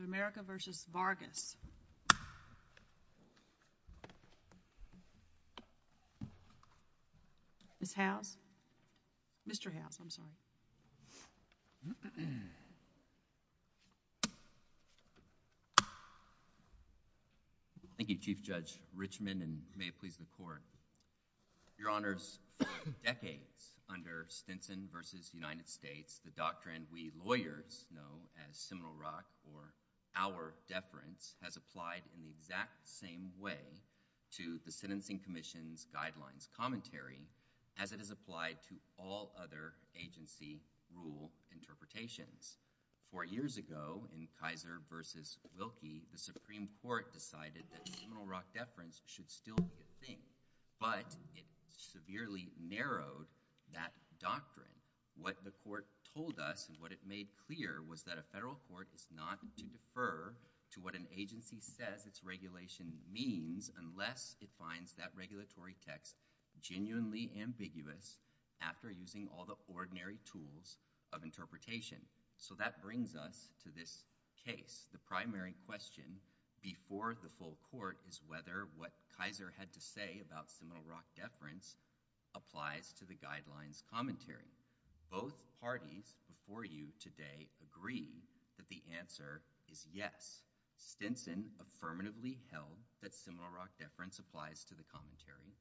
Thank you, Chief Judge Richmond, and may it please the Court, Your Honors, for decades under Stinson v. United States, the doctrine we lawyers know as Seminole Rock or our deference has applied in the exact same way to the Sentencing Commission's Guidelines Commentary as it has applied to all other agency rule interpretations. Four years ago in Kaiser v. Wilkie, the Supreme Court decided that Seminole Rock deference should still be a thing, but it severely narrowed that doctrine. What the Court told us and what it made clear was that a federal court is not to defer to what an agency says its regulation means unless it finds that regulatory text genuinely ambiguous after using all the ordinary tools of interpretation. So that brings us to this case. The primary question before the full Court is whether what Kaiser had to say about Seminole Rock deference applies to the Guidelines Commentary. Both parties before you today agree that the answer is yes. Stinson affirmatively held that Seminole Rock deference applies to the Commentary.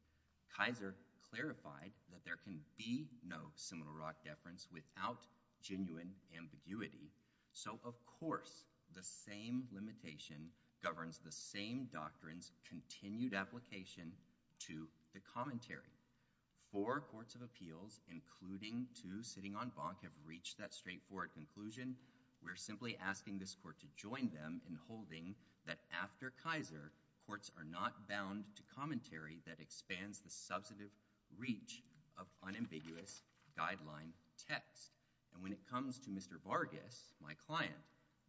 Kaiser clarified that there can be no Seminole Rock deference without genuine ambiguity. So of course, the same limitation governs the same doctrine's continued application to the Commentary. Four courts of appeals, including two sitting on bonk, have reached that straightforward conclusion. We're simply asking this Court to join them in holding that after Kaiser, courts are not bound to commentary that expands the substantive reach of unambiguous guideline text. And when it comes to Mr. Vargas, my client,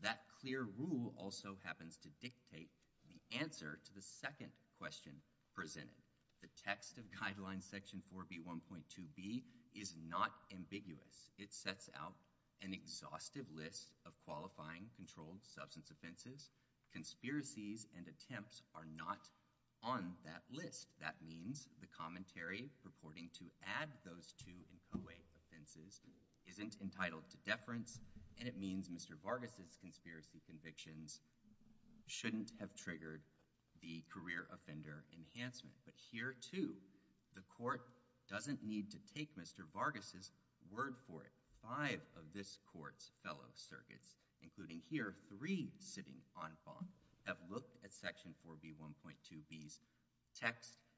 that clear rule also happens to dictate the answer to the second question presented. The text of Guidelines Section 4B1.2b is not ambiguous. It sets out an exhaustive list of qualifying controlled substance offenses. Conspiracies and attempts are not on that list. That means the Commentary purporting to add those two and co-eight offenses isn't entitled to deference, and it means Mr. Vargas' conspiracy convictions shouldn't have triggered the career offender enhancement. But here, too, the Court doesn't need to take Mr. Vargas' word for it. Five of this Court's fellow circuits, including here three sitting on bonk, have looked at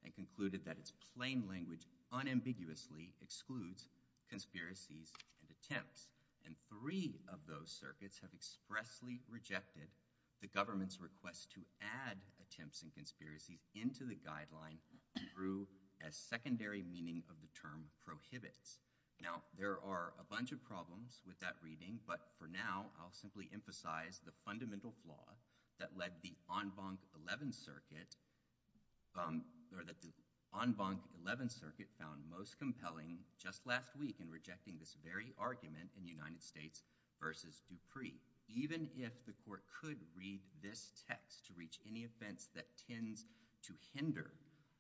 and concluded that its plain language unambiguously excludes conspiracies and attempts. And three of those circuits have expressly rejected the government's request to add attempts and conspiracies into the guideline through a secondary meaning of the term prohibits. Now, there are a bunch of problems with that reading, but for now, I'll simply emphasize the fundamental flaw that led the en banc 11th circuit, or that the en banc 11th circuit found most compelling just last week in rejecting this very argument in the United States versus Dupree. Even if the Court could read this text to reach any offense that tends to hinder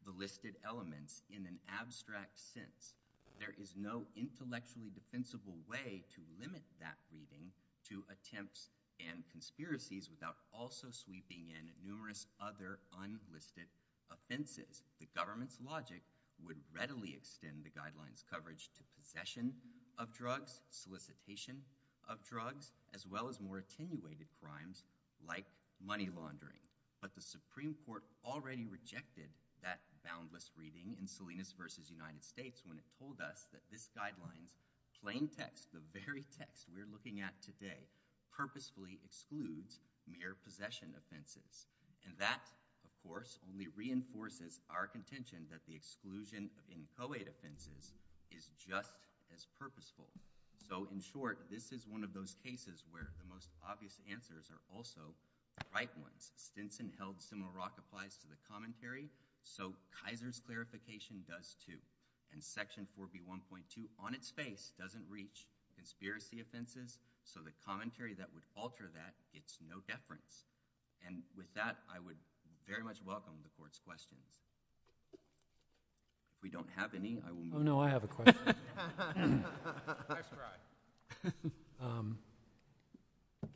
the listed elements in an abstract sense, there is no intellectually defensible way to limit that reading to attempts and conspiracies without also sweeping in numerous other unlisted offenses. The government's logic would readily extend the guideline's coverage to possession of drugs, solicitation of drugs, as well as more attenuated crimes like money laundering. But the Supreme Court already rejected that boundless reading in Salinas versus United States, the text we're looking at today, purposefully excludes mere possession offenses. And that, of course, only reinforces our contention that the exclusion of inchoate offenses is just as purposeful. So, in short, this is one of those cases where the most obvious answers are also right ones. Stinson held similar rock applies to the common theory, so Kaiser's clarification does, too. And Section 4B1.2, on its face, doesn't reach conspiracy offenses, so the common theory that would alter that, it's no deference. And with that, I would very much welcome the Court's questions. If we don't have any, I will move. Oh, no, I have a question. I subscribe.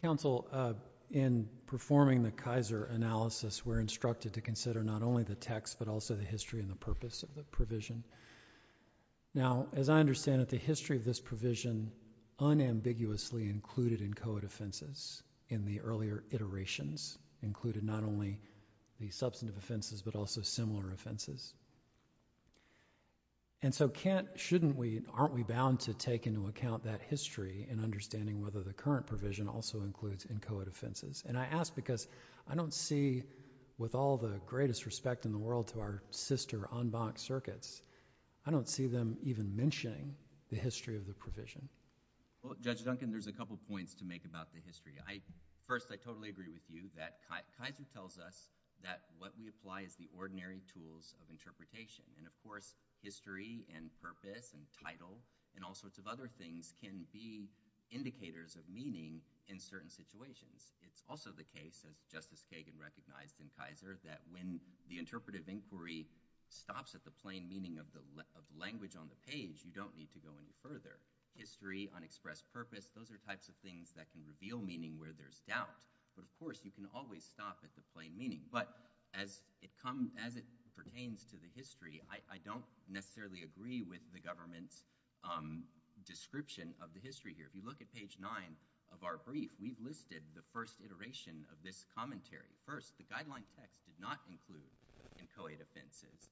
Counsel, in performing the Kaiser analysis, we're instructed to consider not only the Now, as I understand it, the history of this provision unambiguously included inchoate offenses in the earlier iterations, included not only the substantive offenses but also similar offenses. And so can't, shouldn't we, aren't we bound to take into account that history in understanding whether the current provision also includes inchoate offenses? And I ask because I don't see, with all the greatest respect in the world to our sister on-box circuits, I don't see them even mentioning the history of the provision. Well, Judge Duncan, there's a couple points to make about the history. First, I totally agree with you that Kaiser tells us that what we apply is the ordinary tools of interpretation. And of course, history and purpose and title and all sorts of other things can be indicators of meaning in certain situations. It's also the case, as Justice Kagan recognized in Kaiser, that when the interpretive inquiry stops at the plain meaning of the language on the page, you don't need to go any further. History, unexpressed purpose, those are types of things that can reveal meaning where there's doubt. But of course, you can always stop at the plain meaning. But as it comes, as it pertains to the history, I don't necessarily agree with the government's description of the history here. If you look at page nine of our brief, we've listed the first iteration of this commentary. First, the guideline text did not include inchoate offenses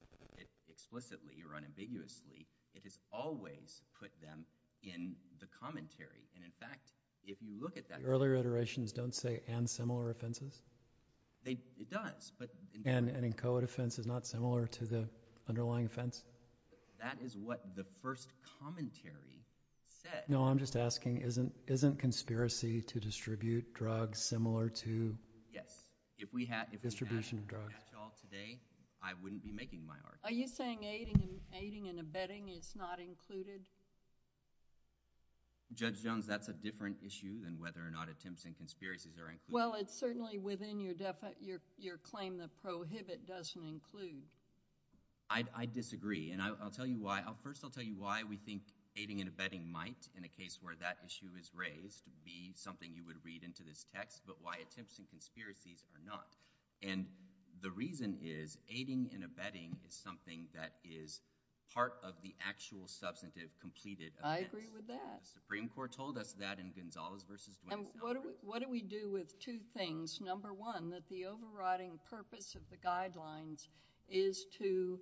explicitly or unambiguously. It has always put them in the commentary. And in fact, if you look at that— The earlier iterations don't say and similar offenses? It does, but— And an inchoate offense is not similar to the underlying offense? That is what the first commentary said. No, I'm just asking, isn't conspiracy to distribute drugs similar to— Yes. If we had— Distribution of drugs. If we had that at all today, I wouldn't be making my argument. Are you saying aiding and abetting is not included? Judge Jones, that's a different issue than whether or not attempts and conspiracies are included. Well, it's certainly within your claim that prohibit doesn't include. I disagree. And I'll tell you why. First, I'll tell you why we think aiding and abetting might, in a case where that issue is raised, be something you would read into this text, but why attempts and conspiracies are not. And the reason is aiding and abetting is something that is part of the actual substantive completed offense. I agree with that. The Supreme Court told us that in Gonzales v. Gwinn. And what do we do with two things? Number one, that the overriding purpose of the guidelines is to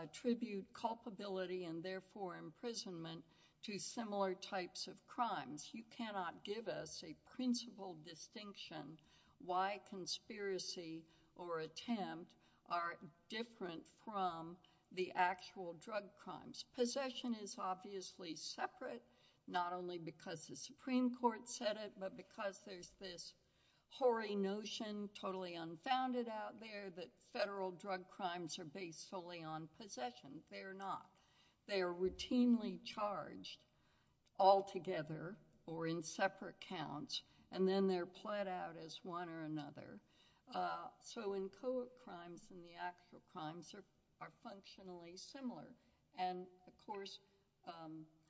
attribute culpability and therefore imprisonment to similar types of crimes. You cannot give us a principle distinction why conspiracy or attempt are different from the actual drug crimes. Possession is obviously separate, not only because the Supreme Court said it, but because there's this hoary notion, totally unfounded out there, that federal drug crimes are based solely on possession. They are not. They are routinely charged altogether or in separate counts, and then they're pled out as one or another. So in co-op crimes and the actual crimes are functionally similar. And of course,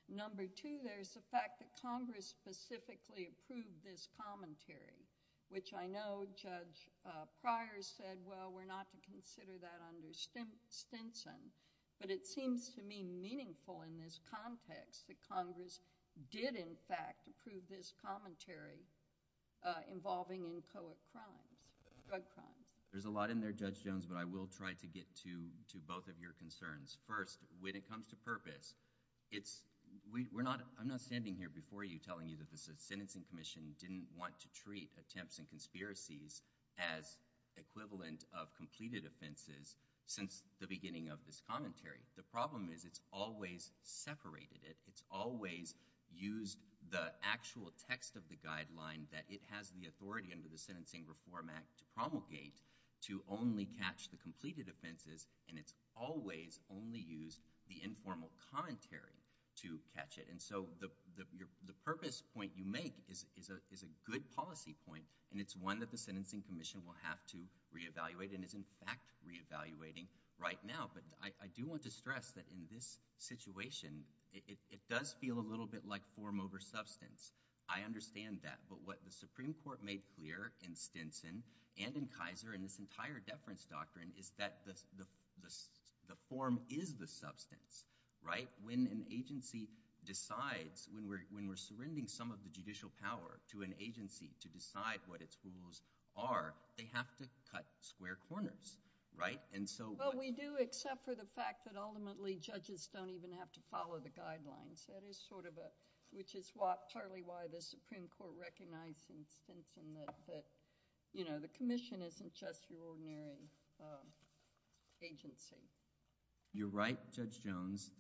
number two, there's the fact that Congress specifically approved this commentary, which I know Judge Pryor said, well, we're not to consider that under Stinson. But it seems to me meaningful in this context that Congress did in fact approve this commentary involving in co-op crimes, drug crimes. There's a lot in there, Judge Jones, but I will try to get to both of your concerns. First, when it comes to purpose, I'm not standing here before you telling you that Congress, as a sentencing commission, didn't want to treat attempts and conspiracies as equivalent of completed offenses since the beginning of this commentary. The problem is it's always separated it. It's always used the actual text of the guideline that it has the authority under the Sentencing Reform Act to promulgate to only catch the completed offenses, and it's always only used the informal commentary to catch it. And so the purpose point you make is a good policy point, and it's one that the Sentencing Commission will have to reevaluate and is in fact reevaluating right now. But I do want to stress that in this situation, it does feel a little bit like form over substance. I understand that. But what the Supreme Court made clear in Stinson and in Kaiser and this entire deference doctrine is that the form is the substance, right? When an agency decides, when we're surrendering some of the judicial power to an agency to decide what its rules are, they have to cut square corners, right? And so... Well, we do except for the fact that ultimately judges don't even have to follow the guidelines. That is sort of a... which is partly why the Supreme Court recognized in Stinson that the commission isn't just your ordinary agency. You're right, Judge Jones,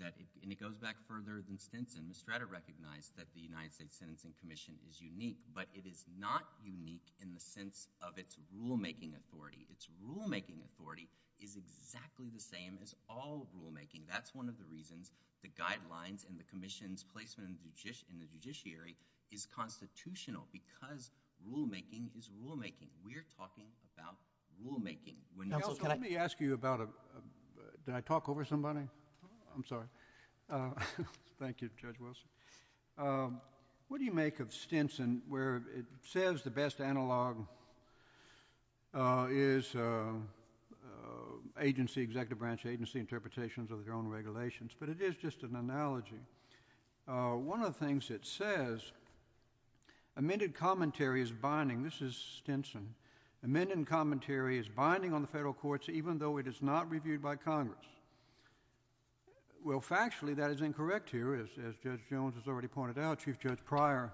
and it goes back further than Stinson. The Strata recognized that the United States Sentencing Commission is unique, but it is not unique in the sense of its rulemaking authority. Its rulemaking authority is exactly the same as all rulemaking. That's one of the reasons the guidelines and the commission's placement in the judiciary is constitutional, because rulemaking is rulemaking. We're talking about rulemaking. Counsel, let me ask you about... did I talk over somebody? I'm sorry. Thank you, Judge Wilson. What do you make of Stinson where it says the best analog is agency, executive branch agency interpretations of their own regulations, but it is just an analogy. One of the things it says, amended commentary is binding. This is Stinson. Amended commentary is binding on the federal courts, even though it is not reviewed by Congress. Well, factually, that is incorrect here. As Judge Jones has already pointed out, Chief Judge Pryor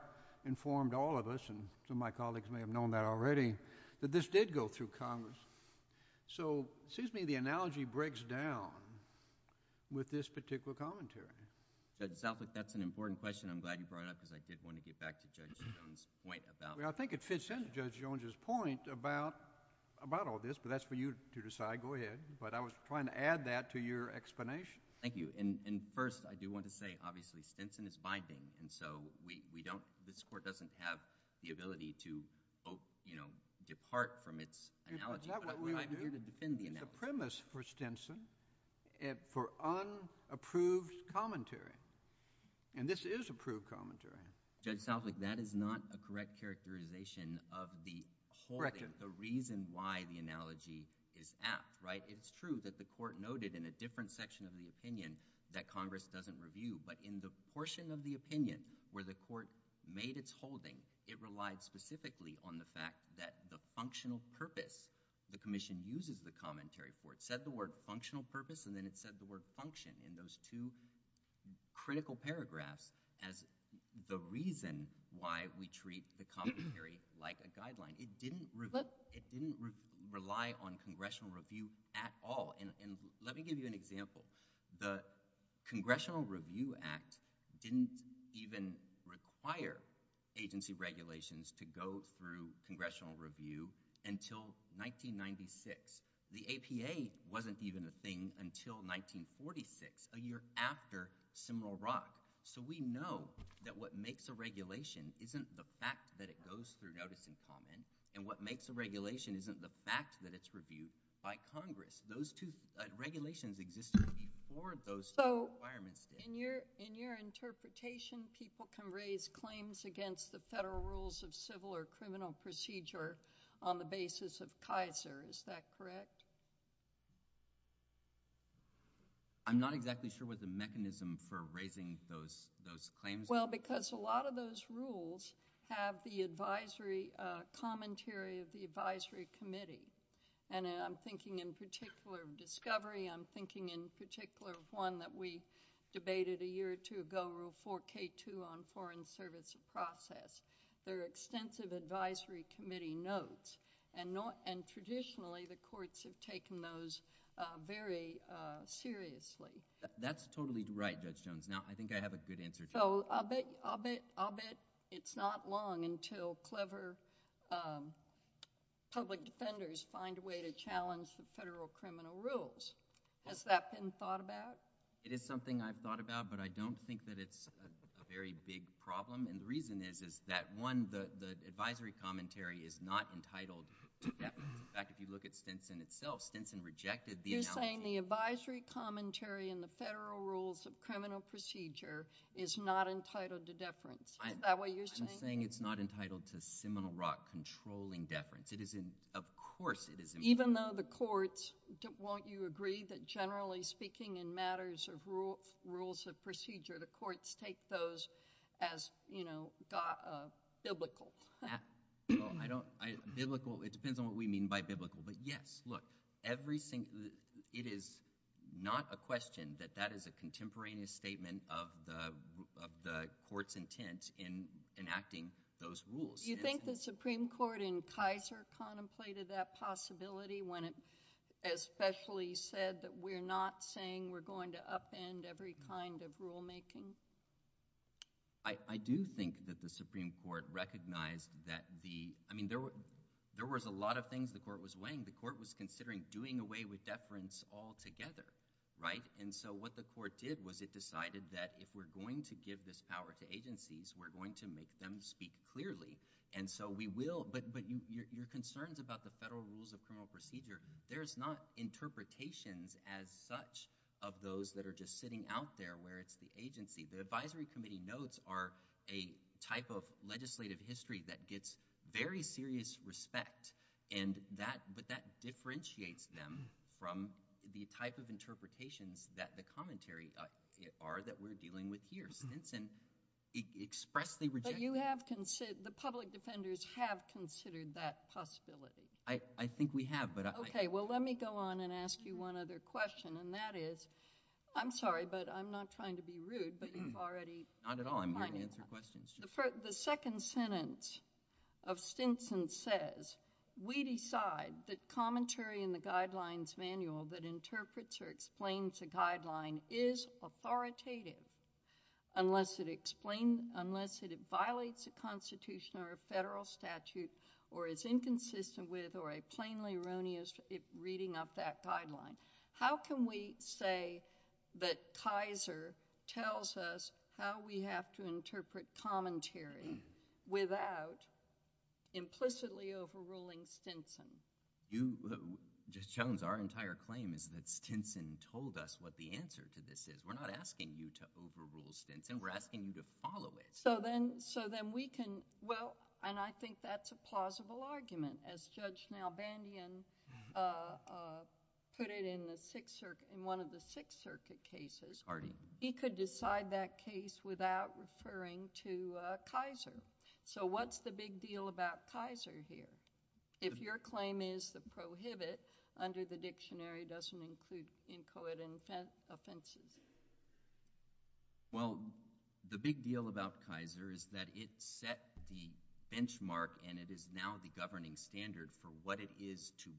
informed all of us, and some of my colleagues may have known that already, that this did go through Congress. So, it seems to me the analogy breaks down with this particular commentary. Judge Southwick, that's an important question. I'm glad you brought it up because I did want to get back to Judge Jones' point about... Well, I think it fits into Judge Jones' point about all this, but that's for you to decide. Go ahead. But I was trying to add that to your explanation. Thank you. And first, I do want to say, obviously, Stinson is binding. And so, we don't... this Court doesn't have the ability to both, you know, depart from its analogy, but I'm here to defend the analogy. The premise for Stinson, for unapproved commentary, and this is approved commentary... Judge Southwick, that is not a correct characterization of the... Correct it.... the reason why the analogy is apt, right? It's true that the Court noted in a different section of the opinion that Congress doesn't review, but in the portion of the opinion where the Court made its holding, it relied specifically on the fact that the functional purpose, the Commission uses the commentary for. It said the word functional purpose, and then it said the word function in those two critical paragraphs as the reason why we treat the commentary like a guideline. It didn't... But... It didn't rely on congressional review at all. And let me give you an example. The Congressional Review Act didn't even require agency regulations to go through congressional review until 1996. The APA wasn't even a thing until 1946, a year after Seminole Rock. So we know that what makes a regulation isn't the fact that it goes through notice and comment, and what makes a regulation isn't the fact that it's reviewed by Congress. Those two regulations existed before those two requirements did. So, in your interpretation, people can raise claims against the federal rules of civil or criminal procedure on the basis of Kaiser. Is that correct? I'm not exactly sure what the mechanism for raising those claims... Well, because a lot of those rules have the advisory commentary of the advisory committee. And I'm thinking in particular of discovery. I'm thinking in particular of one that we debated a year or two ago, Rule 4K2 on foreign service process. There are extensive advisory committee notes. And traditionally, the courts have taken those very seriously. That's totally right, Judge Jones. Now, I think I have a good answer to that. So, I'll bet it's not long until clever public defenders find a way to challenge the federal criminal rules. Has that been thought about? It is something I've thought about, but I don't think that it's a very big problem. And the reason is that, one, the advisory commentary is not entitled to deference. In fact, if you look at Stinson itself, Stinson rejected the... You're saying the advisory commentary in the federal rules of criminal procedure is not entitled to deference. Is that what you're saying? I'm saying it's not entitled to Seminole Rock controlling deference. It is in... of course it is... Even though the courts... won't you agree that generally speaking in matters of rules of procedure, the courts take those as, you know, biblical? Well, I don't... biblical, it depends on what we mean by biblical. But yes, look, every single... it is not a question that that is a contemporaneous statement of the court's intent in enacting those rules. Do you think the Supreme Court in Kaiser contemplated that possibility when it especially said that we're not saying we're going to upend every kind of rulemaking? I do think that the Supreme Court recognized that the... I mean, there was a lot of things the court was weighing. The court was considering doing away with deference altogether, right? And so, what the court did was it decided that if we're going to give this power to agencies, we're going to make them speak clearly. And so, we will... But your concerns about the federal rules of criminal procedure, there's not interpretations as such of those that are just sitting out there where it's the agency. The advisory committee notes are a type of legislative history that gets very serious respect, but that differentiates them from the type of interpretations that the commentary are that we're dealing with here. Stinson expressly rejected... But you have considered... the public defenders have considered that possibility? I think we have, but... Okay. Well, let me go on and ask you one other question, and that is... I'm sorry, but I'm not trying to be rude, but you've already... Not at all. I'm here to answer questions. The second sentence of Stinson says, We decide that commentary in the Guidelines Manual that interprets or explains a guideline is authoritative unless it explains... unless it violates a constitution or a federal statute or is inconsistent with or a plainly erroneous reading of that guideline. How can we say that Kaiser tells us how we have to interpret commentary without implicitly overruling Stinson? You... Jones, our entire claim is that Stinson told us what the answer to this is. We're not asking you to overrule Stinson. We're asking you to follow it. So then we can... well, and I think that's a plausible argument. As Judge Nalbandian put it in one of the Sixth Circuit cases, he could decide that case without referring to Kaiser. So what's the big deal about Kaiser here? If your claim is the prohibit under the dictionary doesn't include inchoate offenses? Well, the big deal about Kaiser is that it set the benchmark and it is now the governing standard for what it is to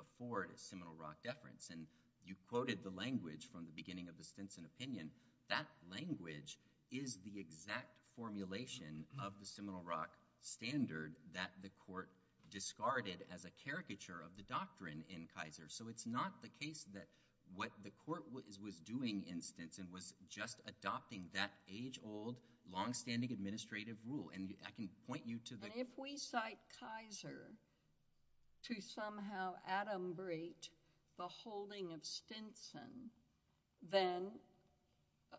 afford a Seminole Rock deference. And you quoted the language from the beginning of the Stinson opinion. That language is the exact formulation of the Seminole Rock standard that the court discarded as a caricature of the doctrine in Kaiser. So it's not the case that what the court was doing in Stinson was just adopting that age-old, long-standing administrative rule. And I can point you to the... And if we cite Kaiser to somehow adumbrate the holding of Stinson, then,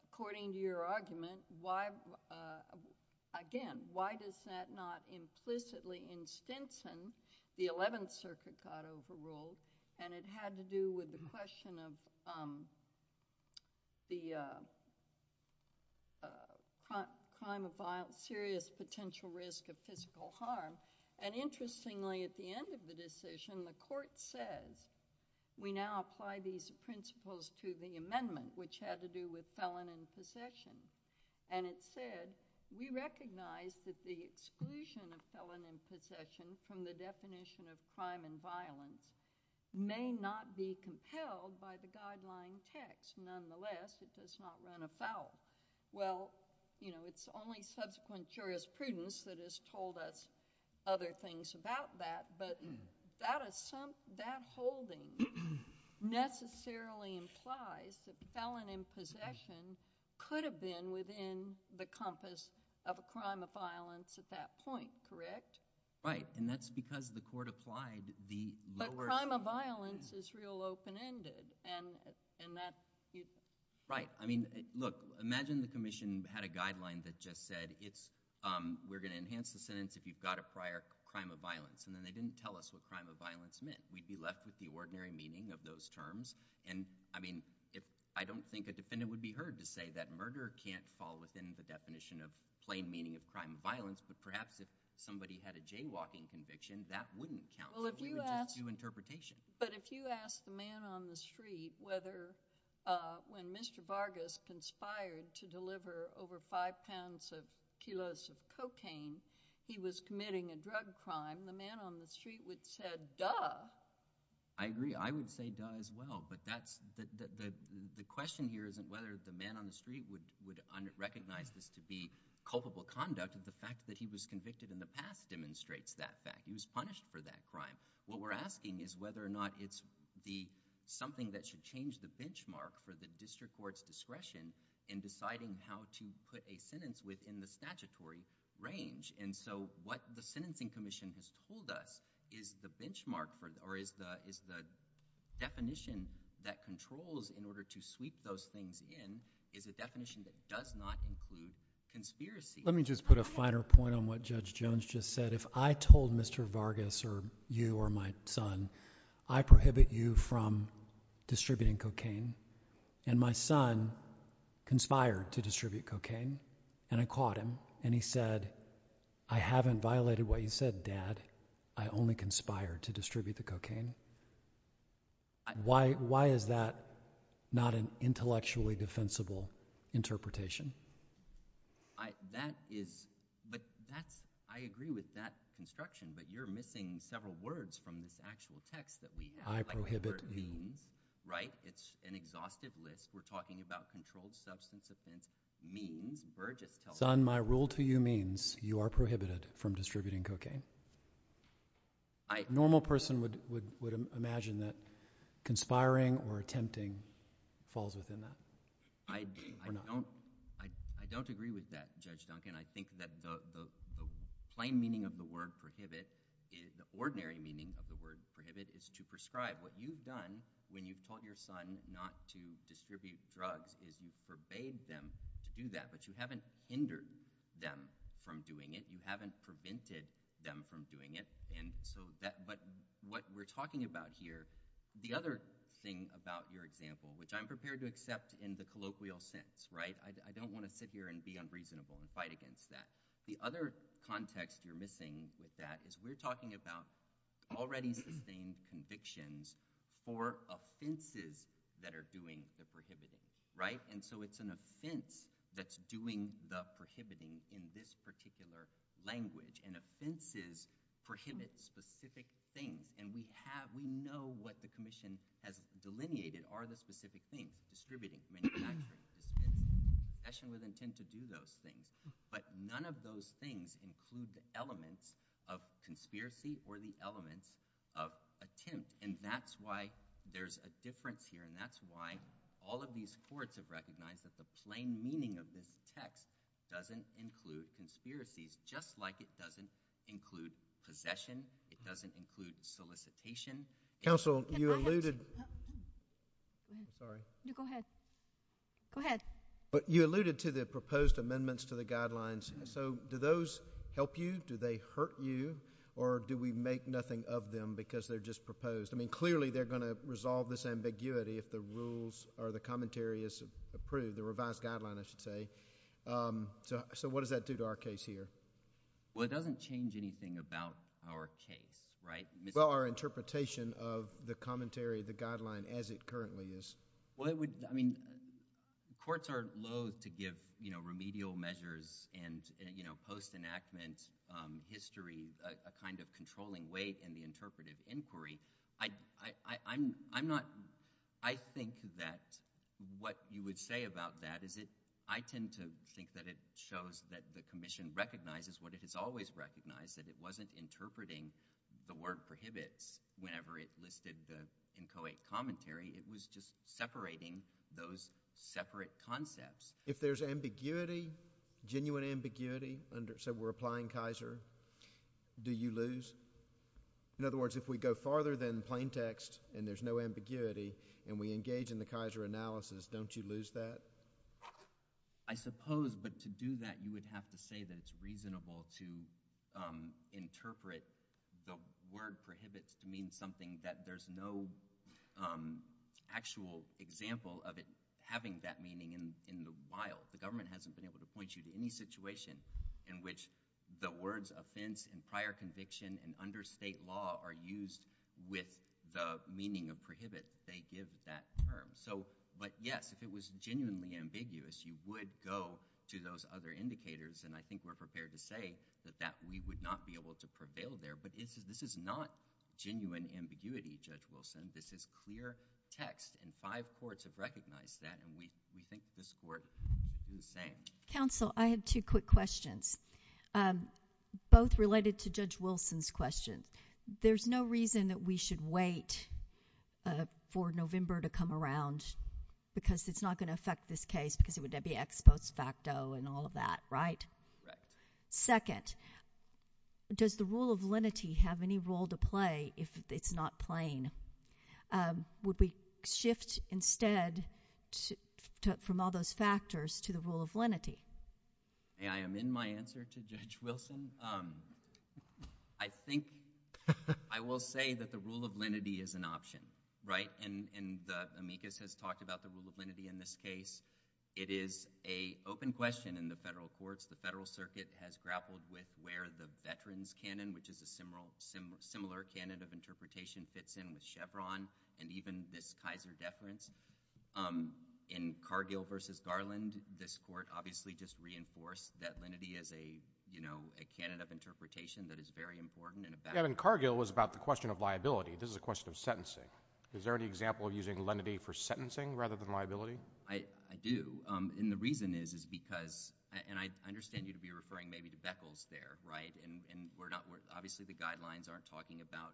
according to your argument, why... again, why does that not implicitly in Stinson, the Eleventh Circuit got overruled and it had to do with the question of the crime of violence, serious potential risk of physical harm. And interestingly, at the end of the decision, the court says, we now apply these principles to the amendment, which had to do with felon in possession. And it said, we recognize that the exclusion of felon in possession from the definition of crime and violence may not be compelled by the guideline text. Nonetheless, it does not run afoul. Well, you know, it's only subsequent jurisprudence that has told us other things about that, but that holding necessarily implies that felon in possession could have been within the compass of a crime of violence at that point, correct? Right. And that's because the court applied the lower... But crime of violence is real open-ended, and that... Right. I mean, look, imagine the Commission had a guideline that just said, we're going to enhance the sentence if you've got a prior crime of violence, and then they didn't tell us what crime of violence meant. We'd be left with the ordinary meaning of those terms. And, I mean, I don't think a defendant would be heard to say that murder can't fall within the definition of plain meaning of crime of violence, but perhaps if somebody had a jaywalking conviction, that wouldn't count. Well, if you ask... We would just do interpretation. But if you ask the man on the street whether when Mr. Vargas conspired to deliver over five pounds of kilos of cocaine, he was committing a drug crime, the man on the street would have said, duh. I agree. I would say, duh, as well. But that's... The question here isn't whether the man on the street would recognize this to be culpable conduct. The fact that he was convicted in the past demonstrates that fact. He was punished for that crime. What we're asking is whether or not it's something that should change the benchmark for the district court's discretion in deciding how to put a sentence within the statutory range. And so what the Sentencing Commission has told us is the benchmark, or is the definition that controls in order to sweep those things in is a definition that does not include conspiracy. Let me just put a finer point on what Judge Jones just said. If I told Mr. Vargas or you or my son, I prohibit you from distributing cocaine and my son conspired to distribute cocaine and I caught him and he said, I haven't violated what you said, Dad. I only conspired to distribute the cocaine. Why is that not an intellectually defensible interpretation? I, that is, but that's, I agree with that construction, but you're missing several words from this actual text that we have. I prohibit you. Right? It's an exhaustive list. We're talking about controlled substance offense means, Vergas tells us. Son, my rule to you means you are prohibited from distributing cocaine. I. A normal person would imagine that conspiring or attempting falls within that. I, I don't. I, I don't agree with that, Judge Duncan. I think that the, the, the plain meaning of the word prohibit is, the ordinary meaning of the word prohibit is to prescribe. What you've done when you've taught your son not to distribute drugs is you've forbade them to do that, but you haven't hindered them from doing it. You haven't prevented them from doing it. And so that, but what we're talking about here, the other thing about your example, which I'm prepared to accept in the colloquial sense, right? I, I don't want to sit here and be unreasonable and fight against that. The other context you're missing with that is we're talking about already sustained convictions for offenses that are doing the prohibiting, right? And so it's an offense that's doing the prohibiting in this particular language. And offenses prohibit specific things. And we have, we know what the commission has delineated are the specific things, distributing, manufacturing, dispensing, possession with intent to do those things. But none of those things include the elements of conspiracy or the elements of attempt. And that's why there's a difference here. And that's why all of these courts have recognized that the plain meaning of this text doesn't include conspiracies, just like it doesn't include possession. It doesn't include solicitation. Counsel, you alluded... Sorry. No, go ahead. Go ahead. You alluded to the proposed amendments to the guidelines. So do those help you? Do they hurt you? Or do we make nothing of them because they're just proposed? I mean, clearly, they're gonna resolve this ambiguity if the rules or the commentary is approved, the revised guideline, I should say. So, so what does that do to our case here? Well, it doesn't change anything about our case, right? Well, our interpretation of the commentary, the guideline as it currently is. Well, it would... I mean, courts are loathe to give, you know, remedial measures and, you know, post-enactment history a kind of controlling weight in the interpretive inquiry. I-I-I'm not... I think that what you would say about that is it... I tend to think that it shows that the commission recognizes what it has always recognized, that it wasn't interpreting the word prohibits whenever it listed the inchoate commentary. It was just separating those separate concepts. If there's ambiguity, genuine ambiguity, so we're applying Kaiser, do you lose? In other words, if we go farther than plain text and there's no ambiguity and we engage in the Kaiser analysis, don't you lose that? I suppose, but to do that, you would have to say that it's reasonable to interpret the word prohibits to mean something that there's no actual example of it having that meaning in the wild. The government hasn't been able to point you to any situation in which the words offense and prior conviction and under state law are used with the meaning of prohibit they give that term. So... but yes, if it was genuinely ambiguous, you would go to those other indicators and I think we're prepared to say that we would not be able to prevail there. But this is not genuine ambiguity, Judge Wilson. This is clear text and five courts have recognized that and we think this court is saying. Counsel, I have two quick questions, both related to Judge Wilson's question. There's no reason that we should wait for November to come around because it's not going to affect this case because it would be ex post facto and all of that, right? Right. Second, does the rule of lenity have any role to play if it's not plain? Would we shift instead from all those factors to the rule of lenity? I am in my answer to Judge Wilson. Um... I think... I will say that the rule of lenity is an option, right? And the amicus has talked about the rule of lenity in this case. It is an open question in the federal courts. The federal circuit has grappled with where the veterans' canon, which is a similar canon of interpretation, fits in with Chevron and even this Kaiser deference. Um... in Cargill v. Garland, this court obviously just reinforced that lenity is a, you know, a canon of interpretation that is very important... Yeah, but Cargill was about the question of liability. This is a question of sentencing. Is there any example of using lenity for sentencing rather than liability? I do, and the reason is, is because... And I understand you'd be referring maybe to Beckles there, right? And we're not... obviously the guidelines aren't talking about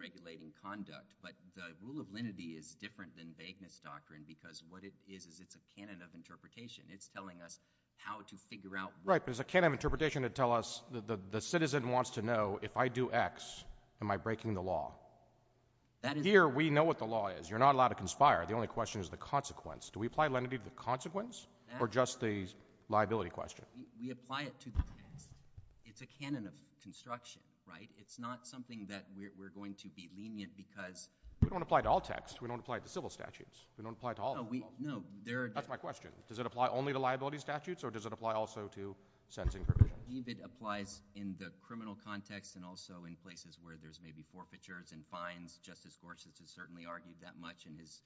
regulating conduct. But the rule of lenity is different than vagueness doctrine, because what it is is it's a canon of interpretation. It's telling us how to figure out... Right, but it's a canon of interpretation to tell us that the citizen wants to know, if I do X, am I breaking the law? Here, we know what the law is. You're not allowed to conspire. The only question is the consequence. Do we apply lenity to the consequence or just the liability question? We apply it to the text. It's a canon of construction, right? It's not something that we're going to be lenient because... We don't apply it to all texts. We don't apply it to civil statutes. We don't apply it to all... That's my question. Does it apply only to liability statutes or does it apply also to sentencing provisions? It applies in the criminal context and also in places where there's maybe forfeitures and fines. Justice Gorsuch has certainly argued that much in his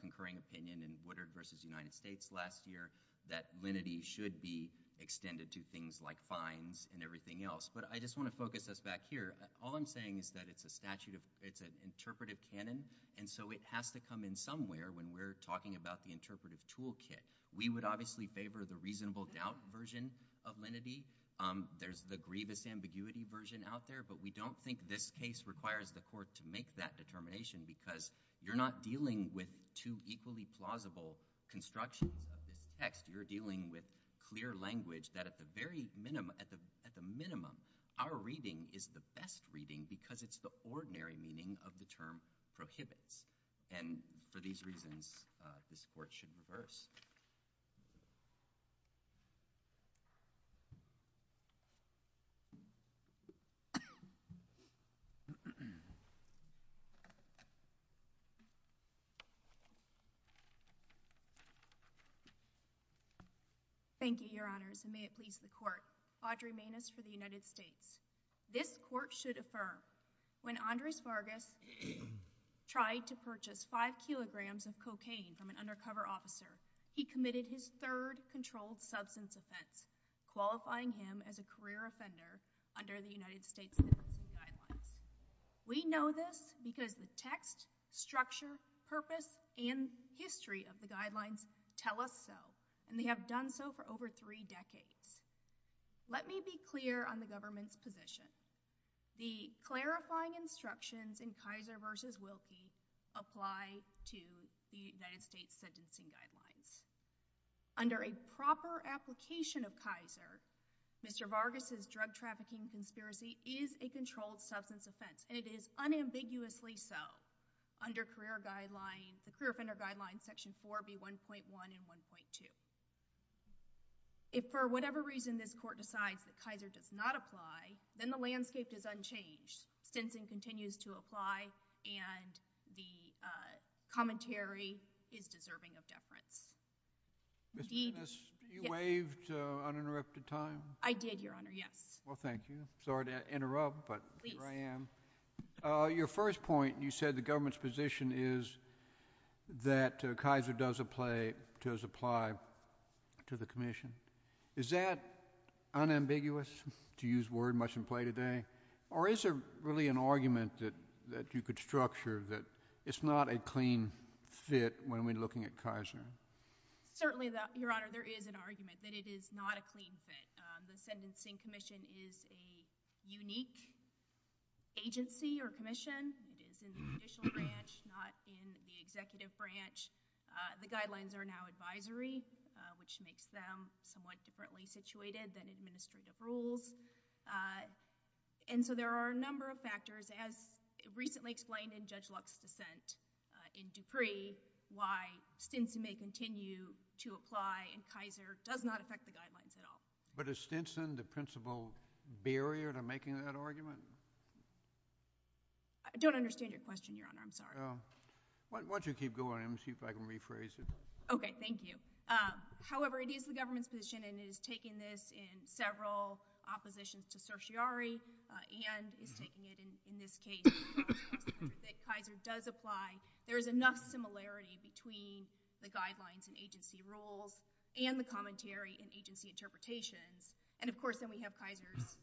concurring opinion in Woodard v. United States last year that lenity should be extended to things like fines and everything else. But I just want to focus us back here. All I'm saying is that it's an interpretive canon and so it has to come in somewhere when we're talking about the interpretive toolkit. We would obviously favor the reasonable doubt version of lenity. There's the grievous ambiguity version out there but we don't think this case requires the court to make that determination because you're not dealing with two equally plausible constructions of this text. You're dealing with clear language that at the minimum our reading is the best reading because it's the ordinary meaning of the term prohibits. And for these reasons this court should reverse. Thank you, Your Honors. And may it please the court. Audrey Manis for the United States. This court should affirm when Andres Vargas tried to obtain from an undercover officer he committed his third controlled substance offense, qualifying him as a career offender under the United States guidelines. We know this because the text, structure, purpose, and history of the guidelines tell us so and they have done so for over three decades. Let me be clear on the government's position. The clarifying instructions in Kaiser v. Wilkie apply to the United States sentencing guidelines. Under a proper application of Kaiser Mr. Vargas' drug trafficking conspiracy is a controlled substance offense and it is unambiguously so under career guidelines, the career offender guidelines section 4B1.1 and 1.2. If for whatever reason this court decides that Kaiser does not apply, then the landscape is unchanged. Sentencing continues to apply and the commentary is deserving of deference. Mr. McInnis, you waived uninterrupted time? I did, your honor, yes. Well, thank you. Sorry to interrupt, but here I am. Your first point you said the government's position is that Kaiser does apply to the commission. Is that unambiguous? To use word, mustn't play today? Or is there really an argument that you could structure that it's not a clean fit when we're looking at Kaiser? Certainly, your honor, there is an argument that it is not a clean fit. The sentencing commission is a unique agency or commission. It's in the judicial branch, not in the executive branch. The guidelines are now advisory which makes them somewhat differently situated than administrative rules. And so there are a number of factors as recently explained in Judge Luck's dissent in Dupree why Stinson may continue to apply and Kaiser does not affect the guidelines at all. But is Stinson the principal barrier to making that argument? I don't understand your question, your honor, I'm sorry. Why don't you keep going and see if I can rephrase it. Okay, thank you. However, it is the government's position and it is taking this in several opposition to certiorari and is taking it in this case that Kaiser does apply. There is enough similarity between the guidelines and agency rules and the commentary and agency interpretations and of course then we have Kaiser's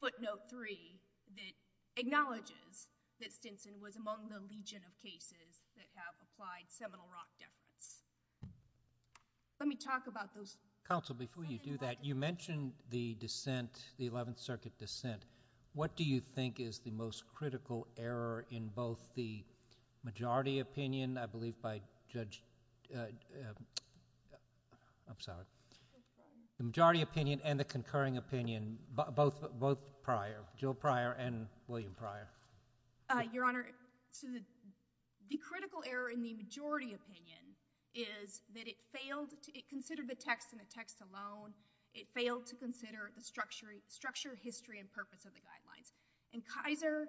footnote three that acknowledges that Stinson was among the legion of cases that have applied seminal rock deference. Let me talk about Council, before you do that, you mentioned the dissent, the 11th Circuit dissent. What do you think is the most critical error in both the majority opinion I believe by Judge I'm sorry the majority opinion and the concurring opinion both prior Jill Pryor and William Pryor. Your honor, the critical error in the majority opinion is that it failed, it considered the text and the text alone, it failed to consider the structure history and purpose of the guidelines and Kaiser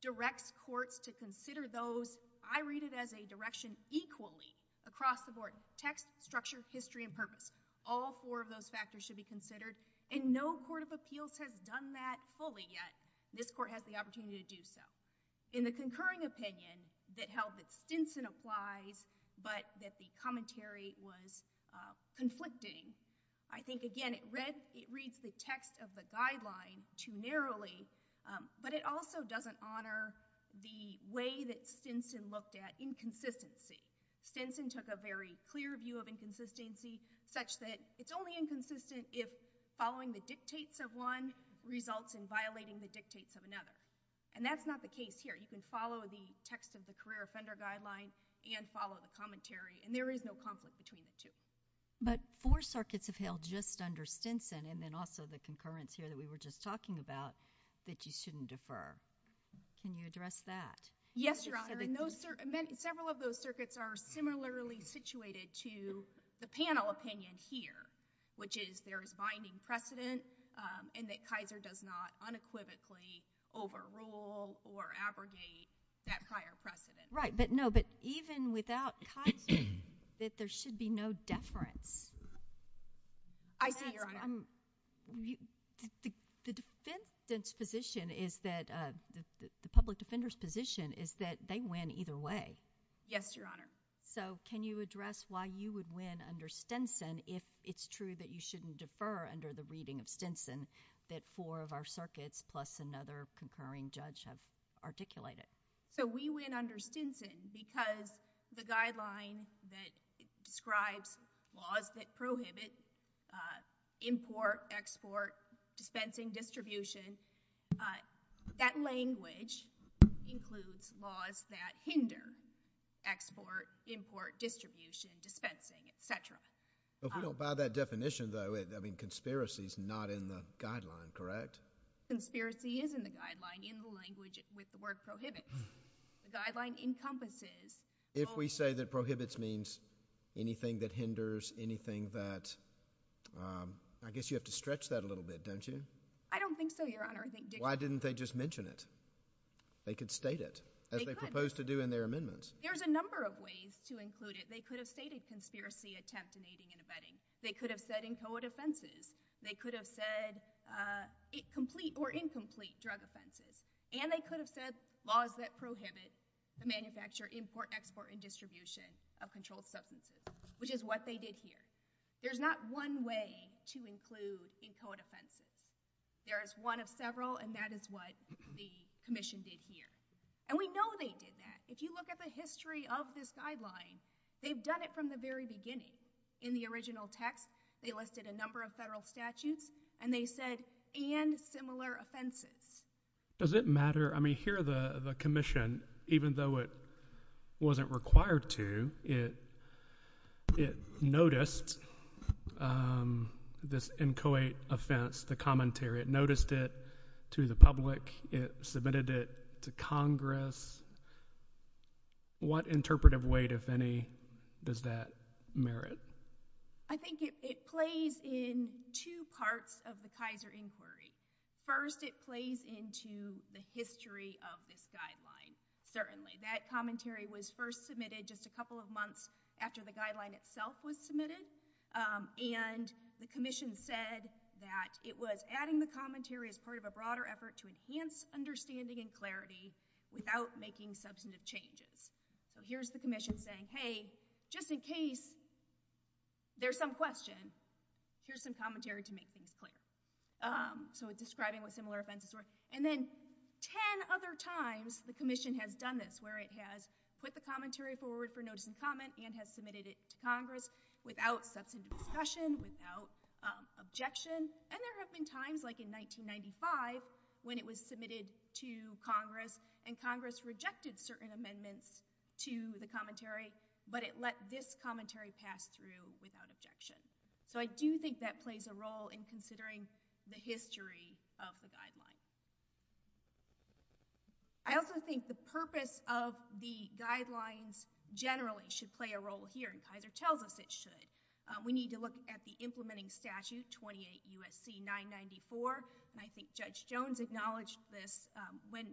directs courts to consider those I read it as a direction equally across the board, text, structure history and purpose. All four of those factors should be considered and no court of appeals has done that fully yet. This court has the opportunity to do so. In the concurring opinion that held that Stinson applies but that the commentary was conflicting I think again it reads the text of the guideline too narrowly but it also doesn't honor the way that Stinson looked at inconsistency. Stinson took a very clear view of inconsistency such that it's only inconsistent if following the dictates of one results in violating the dictates of another and that's not the case here. You can follow the text of the commentary and there is no conflict between the two. But four circuits have held just under Stinson and then also the concurrence here that we were just talking about that you shouldn't defer can you address that? Yes your honor. Several of those circuits are similarly situated to the panel opinion here which is there is binding precedent and that Kaiser does not unequivocally overrule or abrogate that prior precedent. Right but no but even without Kaiser that there should be no deference. I see your honor. The defendant's position is that the public defender's position is that they win either way. Yes your honor. So can you address why you would win under Stinson if it's true that you shouldn't defer under the reading of Stinson that four of our circuits plus another concurring judge have deferred to Stinson because the guideline that describes laws that prohibit import export dispensing distribution that language includes laws that hinder export import distribution dispensing etc. If we don't buy that definition though I mean conspiracy is not in the guideline correct? Conspiracy is in the guideline in the language with the word prohibits. The guideline encompasses If we say that prohibits means anything that hinders anything that I guess you have to stretch that a little bit don't you? I don't think so your honor. Why didn't they just mention it? They could state it as they proposed to do in their amendments. There's a number of ways to include it. They could have stated conspiracy attempt in aiding and abetting. They could have said in co-ed offenses. They could have said complete or incomplete drug offenses. And they could have said laws that prohibit the manufacture import export and distribution of controlled substances. Which is what they did here. There's not one way to include in co-ed offenses. There is one of several and that is what the commission did here. And we know they did that. If you look at the history of this guideline they've done it from the very beginning. In the original text they listed a number of federal statutes and they said and similar offenses. Does it matter? I mean here the commission even though it wasn't required to it noticed this in co-ed offense the commentary. It noticed it to the public. It submitted it to congress. What interpretive weight if any does that merit? I think it plays in two parts of the Kaiser inquiry. First it plays into the history of this guideline. Certainly that commentary was first submitted just a couple of months after the guideline itself was submitted. And the commission said that it was adding the commentary as part of a broader effort to enhance understanding and clarity without making substantive changes. Here's the commission saying hey just in case there's some question here's some commentary to make things clear. So it's describing what similar offenses were. And then ten other times the commission has done this where it has put the commentary forward for notice and comment and has submitted it to congress without substantive discussion, without objection. And there have been times like in 1995 when it was submitted to congress and congress rejected certain amendments to the commentary but it let this commentary pass through without objection. So I do think that plays a role in considering the history of the guideline. I also think the purpose of the guidelines generally should play a role here and Kaiser tells us it should. We need to look at the implementing statute 28 U.S.C. 994 and I think Judge Jones acknowledged this when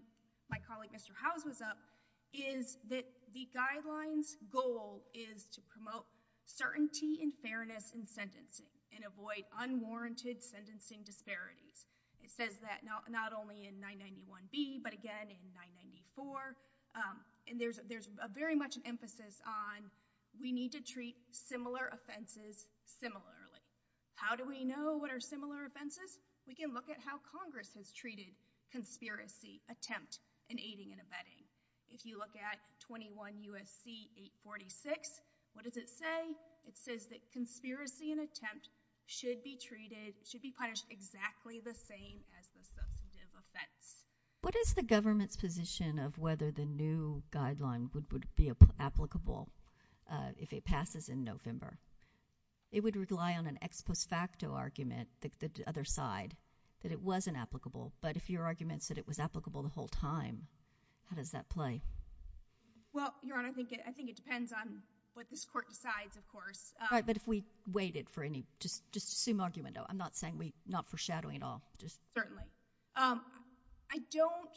my colleague Mr. Howes was up is that the guidelines goal is to promote certainty and fairness in sentencing and avoid unwarranted sentencing disparities. It says that not only in 991B but again in 994 and there's very much an emphasis on we need to treat similar offenses How do we know what are similar offenses? We can look at how congress has treated conspiracy, attempt and aiding and abetting. If you look at 21 U.S.C. 846, what does it say? It says that conspiracy and attempt should be treated should be punished exactly the same as the substantive offense. What is the government's position of whether the new guideline would be applicable if it passes in November? It would rely on an ex post facto argument, the other side that it wasn't applicable but if your argument is that it was applicable the whole time, how does that play? Well, your honor I think it depends on what this court decides of course. But if we waited for any, just assume argument I'm not saying we, not foreshadowing at all Certainly I don't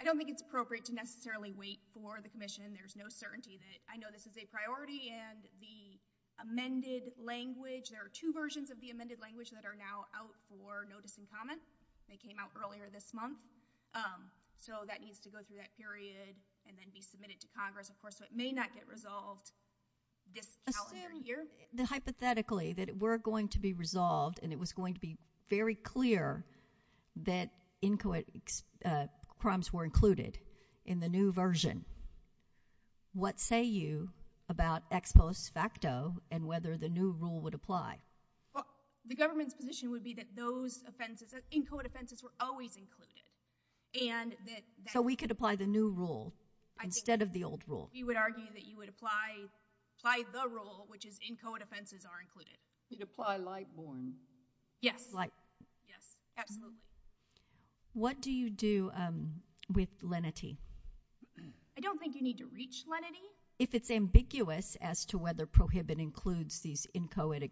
I don't think it's appropriate to necessarily wait for the commission there's no certainty that, I know this is a priority and the amended language, there are two versions of the amended language that are now out for notice and comment they came out earlier this month so that needs to go through that period and then be submitted to Congress of course, so it may not get resolved this calendar year Assume, hypothetically, that it were going to be resolved and it was going to be very clear that crimes were included in the new version what say you about ex post facto and whether the new rule would apply The government's position would be that those in code offenses were always included and that So we could apply the new rule instead of the old rule We would argue that you would apply the rule which is in code offenses are included You'd apply light born Yes, absolutely What do you do with lenity I don't think you need to reach lenity If it's ambiguous as to whether prohibit includes these in code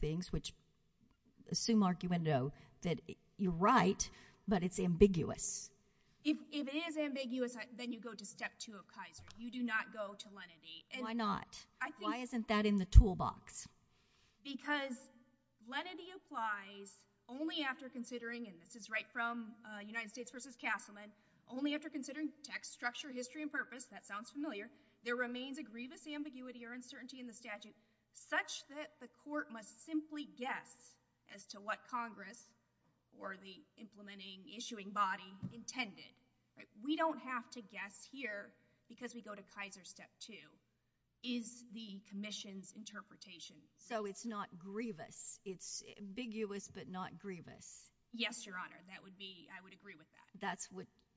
things which assume arguendo that you're right but it's ambiguous If it is ambiguous then you go to step two of Kaiser, you do not go to lenity Why not? Why isn't that in the toolbox Because lenity applies only after considering and this is right from United States vs. Castleman only after considering text structure, history, and purpose, that sounds familiar There remains a grievous ambiguity or uncertainty in the statute such that the court must simply guess as to what Congress or the implementing issuing body intended We don't have to guess here because we go to Kaiser step two is the commission's interpretation So it's not grievous, it's ambiguous but not grievous Yes, your honor, I would agree with that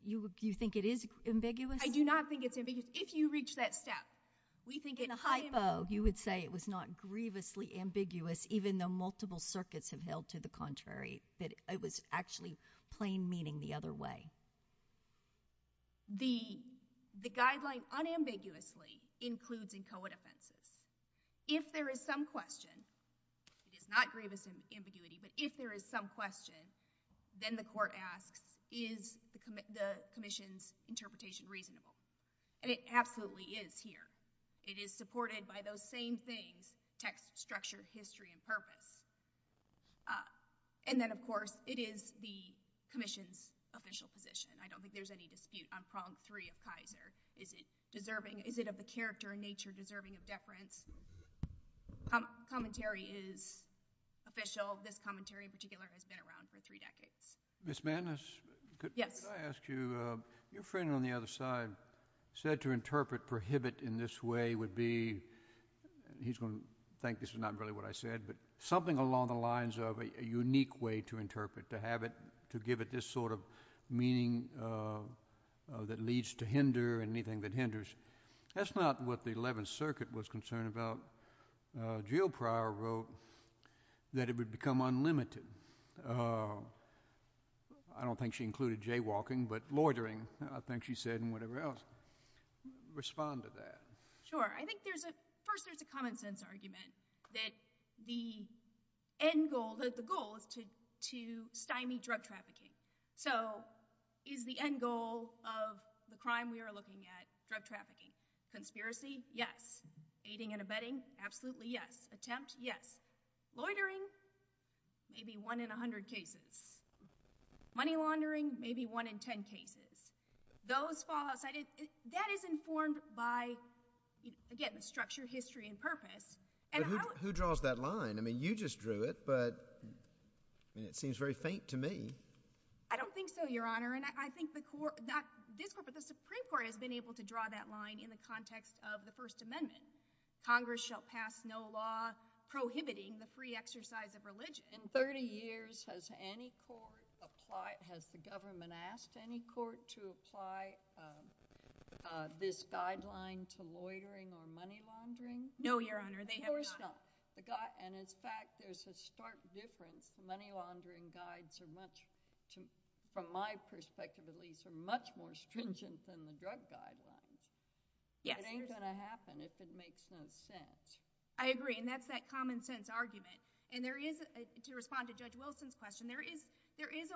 You think it is ambiguous I do not think it's ambiguous If you reach that step In a hypo, you would say it was not grievously ambiguous even though multiple circuits have held to the contrary It was actually plain meaning the other way The guideline unambiguously includes in code offenses If there is some question it's not grievous ambiguity but if there is some question then the court asks Is the commission's interpretation reasonable And it absolutely is here It is supported by those same things text structure, history, and purpose And then of course it is the commission's official position I don't think there's any dispute on prong three of Kaiser. Is it deserving Is it of the character and nature deserving of deference Commentary is official This commentary in particular has been around for three decades Miss Madness Your friend on the other side said to interpret prohibit in this way would be he's going to think this is not really what I said but something along the lines of a unique way to interpret to give it this sort of meaning that leads to hinder and anything that hinders That's not what the 11th circuit was concerned about Jill Pryor wrote that it would become unlimited I don't think she included jaywalking but loitering I think she said and whatever else Respond to that First there's a common sense argument that the end goal, the goal is to stymie drug trafficking So is the end goal of the crime we are looking at drug trafficking Conspiracy, yes. Aiding and abetting Absolutely yes. Attempt, yes Loitering Maybe 1 in 100 cases Money laundering, maybe 1 in 10 cases That is informed by again the structure, history and purpose Who draws that line? I mean you just drew it but it seems very faint to me I don't think so your honor I think the Supreme Court has been able to draw that line in the context of the first amendment Congress shall pass no law prohibiting the free exercise of religion In 30 years has any court applied, has the government asked any court to apply this guideline to loitering or money laundering? No your honor And in fact there's a stark difference money laundering guides from my perspective are much more stringent than the drug What's going to happen if it makes no sense? I agree and that's that common sense argument and there is to respond to Judge Wilson's question there is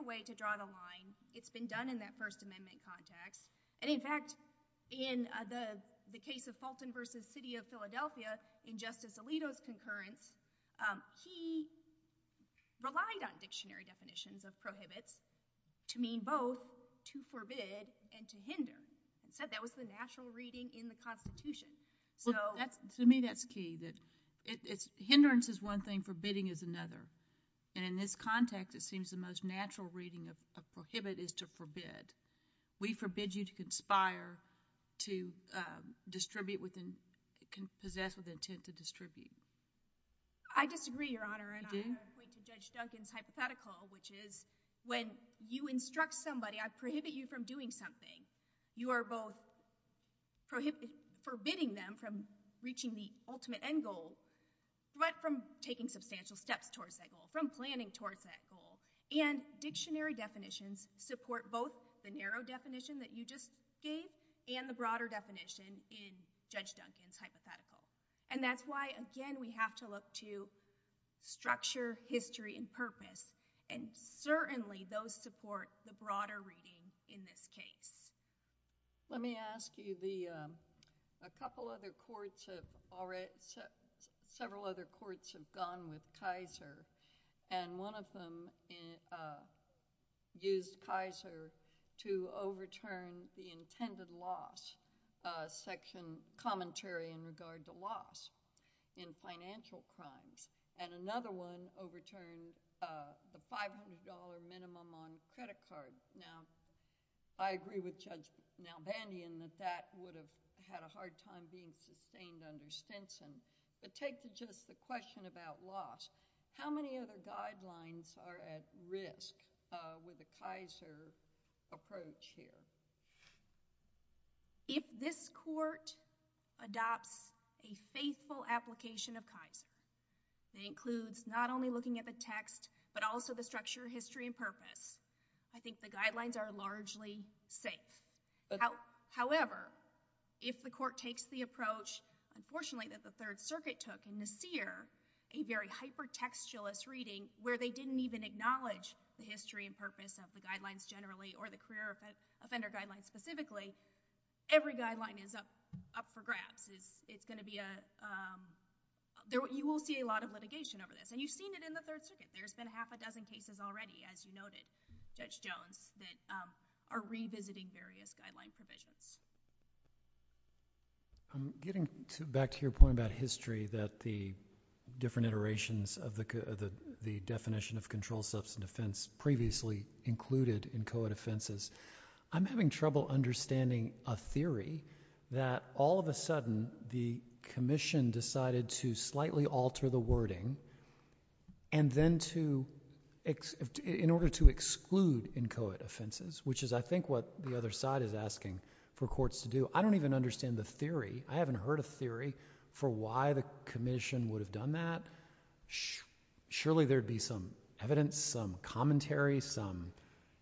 a way to draw the line it's been done in that first amendment context and in fact in the case of Fulton v. City of Philadelphia in Justice Alito's concurrence he relied on dictionary definitions of prohibits to mean both to forbid and to hinder he said that was the natural reading in the Constitution To me that's key hindrance is one thing, forbidding is another and in this context it seems the most natural reading of prohibit is to forbid we forbid you to conspire to distribute possess with intent to distribute I disagree your honor and I point to Judge Duncan's hypothetical which is when you instruct somebody I prohibit you from doing something you are both forbidding them from reaching the ultimate end goal but from taking substantial steps towards that goal, from planning towards that goal and dictionary definitions support both the narrow definition that you just gave and the broader definition in Judge Duncan's hypothetical and that's why again we have to look to structure, history and purpose and certainly those that support the broader reading in this case Let me ask you a couple other courts several other courts have gone with Kaiser and one of them used Kaiser to overturn the intended loss section commentary in regard to loss in financial crimes and another one overturned the $500 minimum on credit cards now I agree with Judge Nalbandian that that would have had a hard time being sustained under Stinson but take just the question about loss how many other guidelines are at risk with the Kaiser approach here If this court adopts a faithful application of Kaiser that includes not only looking at the text but also the structure history and purpose I think the guidelines are largely safe however if the court takes the approach unfortunately that the Third Circuit took in the Sear a very hypertextualist reading where they didn't even acknowledge the history and purpose of the guidelines generally or the career offender guidelines specifically every guideline is up for grabs it's going to be a you will see a lot of litigation over this and you've seen it in the Third Circuit there's been half a dozen cases already as you noted Judge Jones that are revisiting various guideline provisions I'm getting back to your point about history that the different iterations of the definition of controlled substance offense previously included in COA defenses I'm having trouble understanding a theory that all of a sudden the commission decided to slightly alter the wording and then to in order to exclude in COA defenses which is I think what the other side is asking for courts to do I don't even understand the theory I haven't heard a theory for why the commission would have done that surely there would be some evidence some commentary some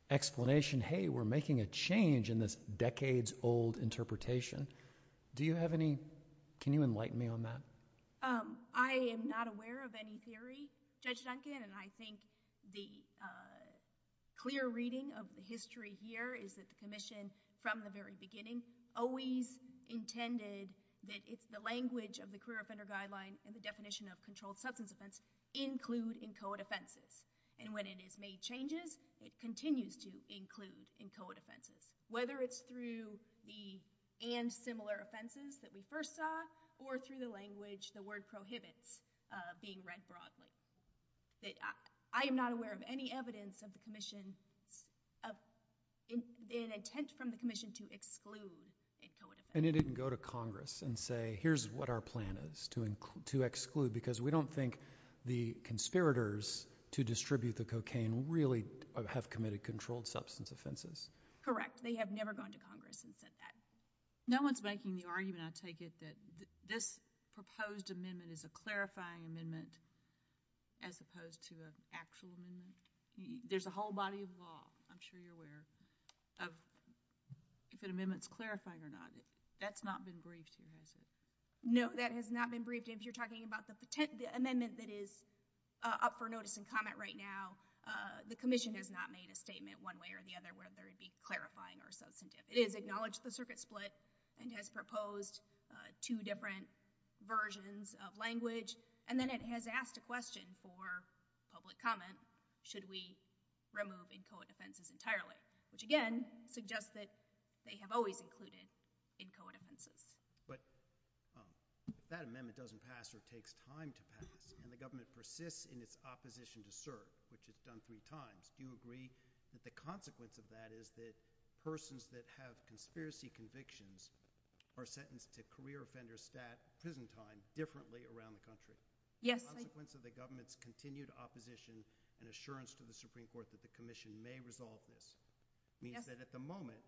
explanation hey we're making a change in this decades old interpretation do you have any can you enlighten me on that I am not aware of any theory Judge Duncan and I think the clear reading of the history here is that the commission from the very beginning always intended that if the language of the clear offender guideline and the definition of controlled substance offense include in COA defenses and when it is made changes it continues to whether it's through the and similar offenses that we first saw or through the language the word prohibits being read broadly that I am not aware of any evidence of the commission of an intent from the commission to exclude in COA defenses and it didn't go to congress and say here's what our plan is to exclude because we don't think the conspirators to distribute the cocaine really have committed controlled substance offenses correct they have never gone to congress and said that no one's making the argument I take it that this proposed amendment is a clarifying amendment as opposed to a actual there's a whole body of law I'm sure you're aware of if an amendments clarifying or not that's not been briefed no that has not been briefed if you're talking about the amendment that is up for notice and comment right now the commission has not made a statement one way or the other whether it be clarifying or substantive it has acknowledged the circuit split and has proposed two different versions of language and then it has asked a question for public comment should we remove in COA defenses entirely which again suggests that they have always included in COA defenses but that amendment doesn't pass or takes time to pass and the government persists in its opposition to serve which it's done three times do you agree that the consequence of that is that persons that have conspiracy convictions are sentenced to career offender stat prison time differently around the country the consequence of the government's continued opposition and assurance to the Supreme Court that the commission may resolve this means that at the moment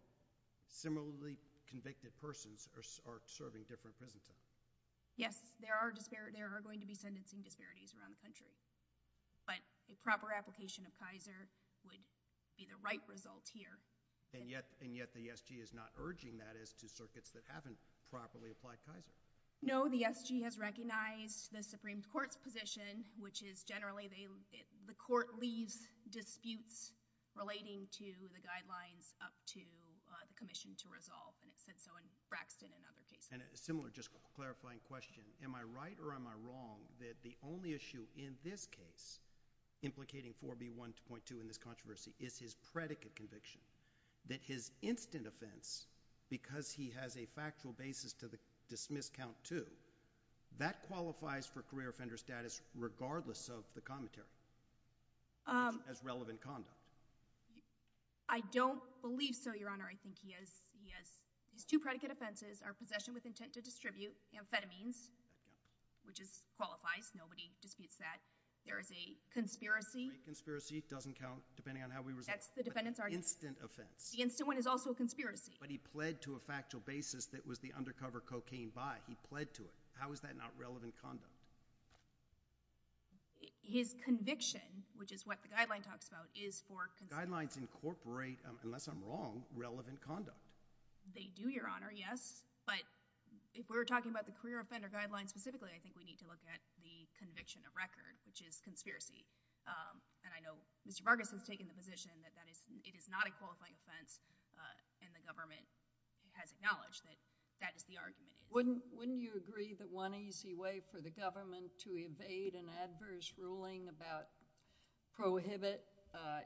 similarly convicted persons are serving different prison terms yes there are there are going to be sentencing disparities around the country but a proper application of Kaiser would be the right result here and yet the SG is not urging that as to circuits that haven't properly applied Kaiser no the SG has recognized the Supreme Court's position which is generally the court leaves disputes relating to the guidelines up to the commission to resolve and it said so in Braxton and other cases and a similar just clarifying question am I right or am I wrong that the only issue in this case implicating 4B1.2 in this controversy is his predicate conviction that his instant offense because he has a factual basis to dismiss count two that qualifies for career offender status regardless of the commentary as relevant conduct I don't believe so your honor I think he has two predicate offenses are possession with intent to distribute amphetamines which is qualifies nobody disputes that there is a conspiracy great conspiracy doesn't count depending on how we resolve that's the defendants argument instant offense the instant one is also a conspiracy but he pled to a factual basis that was the undercover cocaine buy he pled to it how is that not relevant conduct his conviction which is what the guideline talks about is for guidelines incorporate unless I'm wrong relevant conduct they do your honor yes but if we're talking about the career offender guidelines specifically I think we need to look at the conviction of record which is conspiracy and I know Mr. Vargas has taken the position that it is not a qualifying offense and the government has acknowledged that is the argument wouldn't you agree that one easy way for the government to evade an adverse ruling about prohibit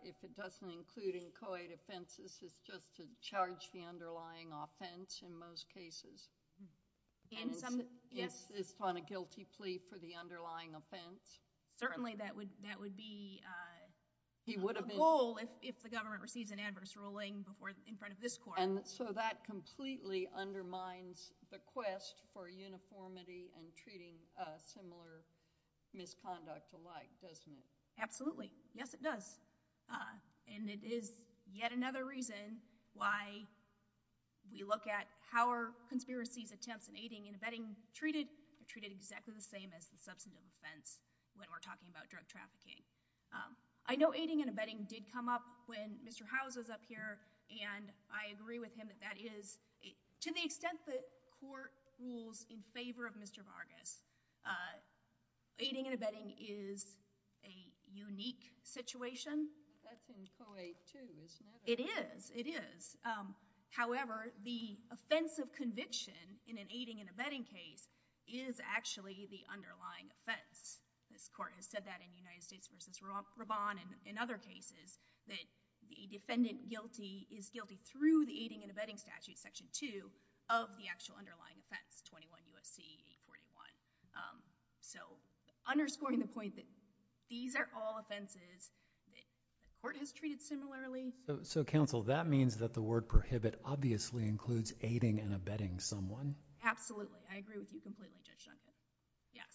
if it doesn't including coed offenses just to charge the underlying offense in most cases yes on a guilty plea for the underlying offense certainly that would be a goal if the government receives an adverse ruling in front of this court so that completely undermines the quest for uniformity and treating similar misconduct alike doesn't it absolutely yes it does and it is yet another reason why we look at how are conspiracies attempts in aiding and abetting treated treated exactly the same as the substantive offense when we're talking about drug trafficking I know aiding and abetting did come up when Mr. Howes was up here and I agree with him that that is to the extent that court rules in favor of Mr. Vargas aiding and abetting is a unique situation it is however the offense of conviction in an aiding and abetting case is actually the underlying offense this court has said that in United States versus Raban and in other cases that the defendant guilty is guilty through the aiding and abetting statute section 2 of the actual underlying offense 21 U.S.C. 841 so underscoring the point that these are all offenses the court has treated similarly so counsel that means that the word prohibit obviously includes aiding and abetting someone absolutely I agree with you completely Judge Shumkin yes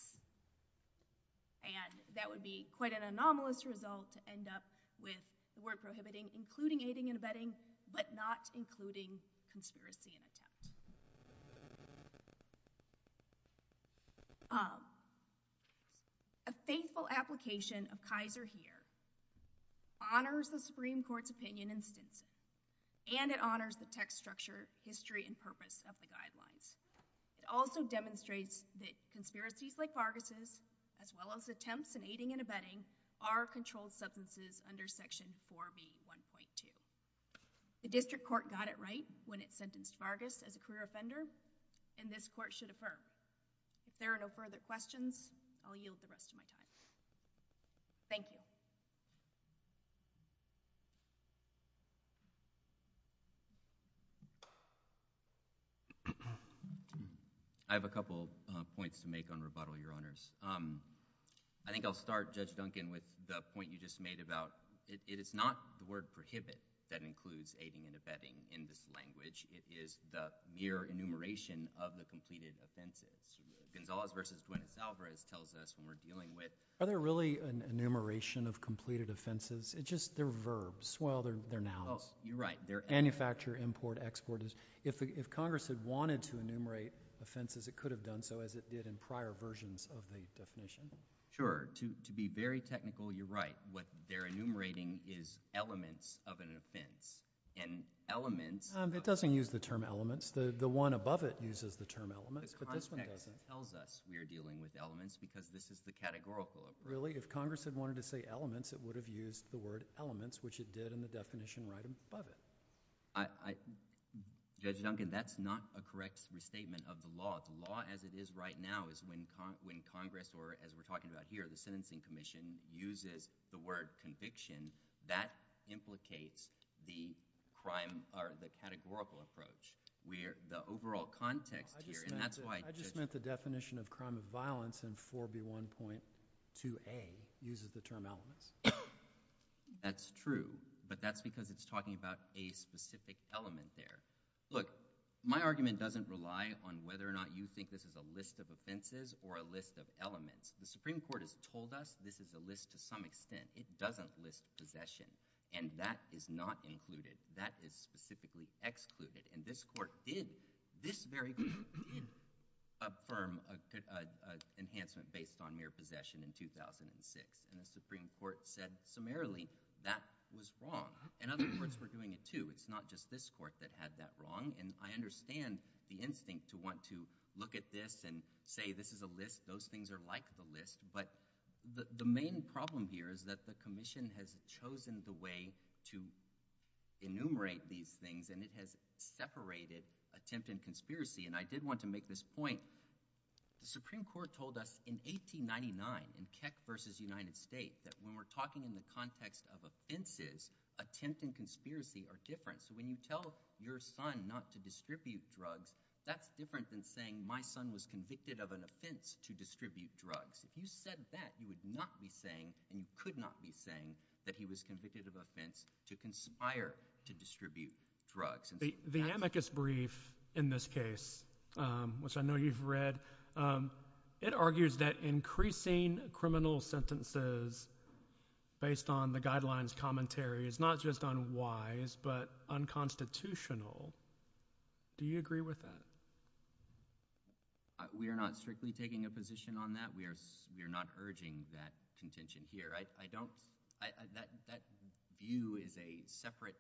and that would be quite an anomalous result to end up with the word prohibiting including aiding and abetting but not including conspiracy and attack a faithful application of Kaiser here honors the Supreme Court's opinion and it honors the text structure, history and purpose of the guidelines it also demonstrates that conspiracies like Vargas' as well as attempts in aiding and abetting are controlled substances under section 4B 1.2 the district court got it right when it sentenced Vargas as a career offender and this court should affirm if there are no further questions I'll yield the rest of my time thank you I have a couple points to make on rebuttal your honors I think I'll start Judge Duncan with the point you just made about it is not the word prohibit that includes aiding and abetting in this enumeration of the completed offenses Gonzalez vs. Guinness Alvarez tells us when we're dealing with are there really an enumeration of completed offenses? It's just they're verbs well they're nouns manufacture, import, export if Congress had wanted to enumerate offenses it could have done so as it did in prior versions of the definition sure, to be very technical you're right, what they're enumerating is elements of an offense and elements it doesn't use the term elements the one above it uses the term elements but this one doesn't because this is the categorical if Congress had wanted to say elements it would have used the word elements which it did in the definition right above it Judge Duncan that's not a correct restatement of the law, the law as it is right now is when Congress or as we're talking about here, the sentencing commission uses the word conviction that implicates the categorical approach the overall context here I just meant the definition of crime of violence in 4B1.2A uses the term elements that's true but that's because it's talking about a specific element there look, my argument doesn't rely on whether or not you think this is a list of offenses or a list of elements the Supreme Court has told us this is a list to some extent, it doesn't list what is not included that is specifically excluded and this court did affirm an enhancement based on mere possession in 2006 and the Supreme Court said summarily that was wrong and other courts were doing it too it's not just this court that had that wrong and I understand the instinct to want to look at this and say this is a list those things are like the list but the main problem here is that the commission has chosen the way to enumerate these things and it has separated attempt and conspiracy and I did want to make this point the Supreme Court told us in 1899 in Keck v. United States that when we're talking in the context of offenses, attempt and conspiracy are different, so when you tell your son not to distribute drugs that's different than saying my son was convicted of an offense to distribute drugs, if you said that you would not be saying and could not be saying that he was convicted of an offense to conspire to distribute drugs. The amicus brief in this case which I know you've read it argues that increasing criminal sentences based on the guidelines commentary is not just unwise but unconstitutional do you agree with that? We are not strictly taking a position on that, we are not urging that contention here that view is a separate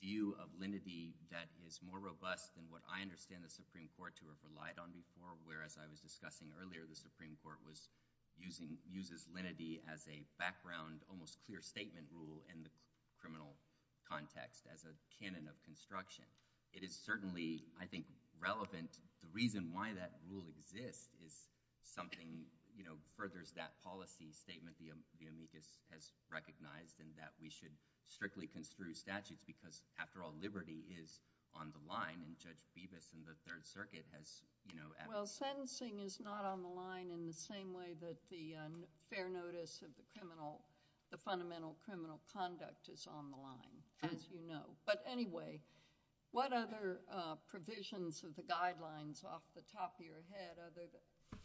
view of lenity that is more robust than what I understand the Supreme Court to have relied on before, where as I was discussing earlier, the Supreme Court uses lenity as a background, almost clear statement rule in the criminal context as a canon of construction it is certainly, I think relevant, the reason why that rule exists is something you know, furthers that policy statement the amicus has recognized and that we should strictly construe statutes because after all liberty is on the line and Judge Bevis in the Third Circuit has you know, well sentencing is not on the line in the same way that the fair notice of the criminal, the fundamental criminal conduct is on the line as you know, but anyway what other provisions of the guidelines off the top of your head,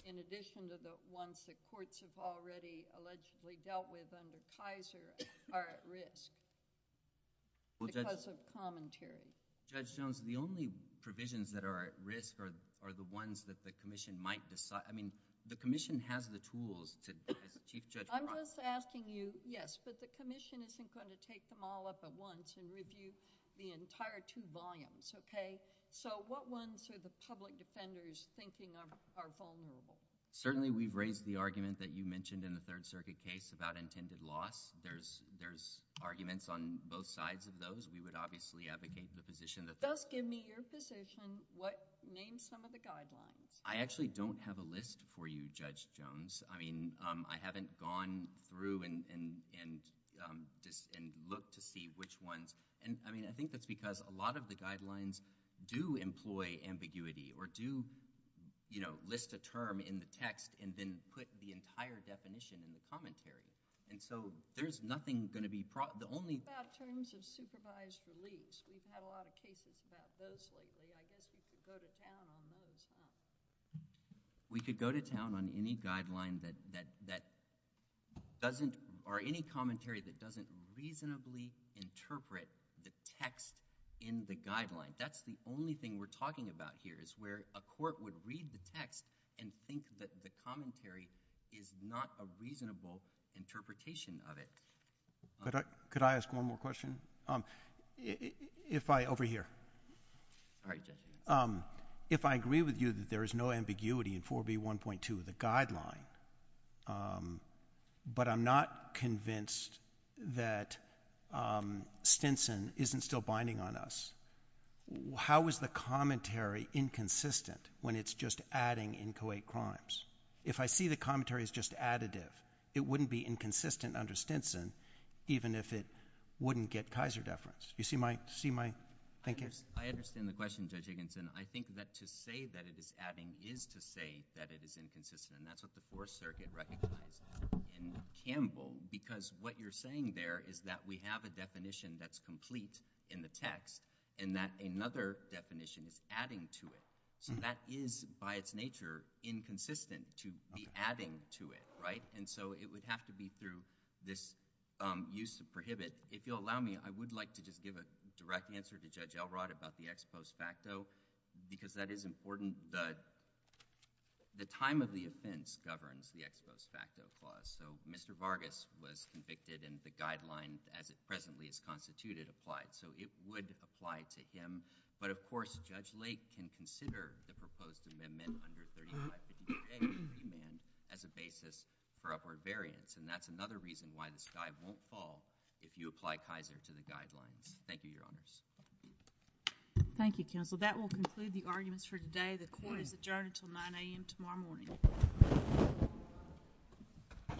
in addition to the ones that courts have already allegedly dealt with under Kaiser are at risk because of commentary Judge Jones, the only provisions that are at risk are the ones that the commission might decide I mean, the commission has the tools to, Chief Judge I'm just asking you, yes, but the commission isn't going to take them all up at once and review the entire two volumes, okay, so what ones are the public defenders thinking are vulnerable? Certainly we've raised the argument that you mentioned in the Third Circuit case about intended loss there's arguments on both sides of those, we would obviously advocate the position that... Thus give me your position, name some of the guidelines. I actually don't have a list for you Judge Jones I mean, I haven't gone through and looked to see which ones I mean, I think that's because a lot of the guidelines do employ ambiguity or do you know, list a term in the text and then put the entire definition in the commentary, and so there's nothing going to be... About terms of supervised release we've had a lot of cases about those lately, I guess we could go to town on those, huh? We could go to town on any guideline that doesn't or any commentary that doesn't reasonably interpret the text in the guideline that's the only thing we're talking about here is where a court would read the text and think that the commentary is not a reasonable interpretation of it Could I ask one more question? If I... Over here If I agree with you that there is no ambiguity in 4B1.2 the guideline but I'm not convinced that Stinson isn't still binding on us how is the commentary inconsistent when it's just adding in Co-8 crimes? If I see the commentary is just additive, it wouldn't be inconsistent under Stinson even if it wouldn't get Kaiser deference. You see my... I understand the question, Judge Higginson. I think that to say that it is adding is to say that it is inconsistent and that's what the Fourth Circuit recognized in Campbell because what you're saying there is that we have a definition that's complete in the text and that another definition is adding to it so that is by its nature inconsistent to be adding to it, right? And so it would have to be through this use of prohibit. If you'll allow me, I would like to just give a direct answer to Judge Elrod about the ex post facto because that is important the time of the clause. So Mr. Vargas was convicted and the guideline as it presently is constituted applied so it would apply to him but of course Judge Lake can consider the proposed amendment under 3558A as a basis for upward variance and that's another reason why this guy won't fall if you apply Kaiser to the guidelines. Thank you, Your Honors. Thank you, Counsel. That will conclude the arguments for today. The court is adjourned until 9 a.m. tomorrow morning. Thank you.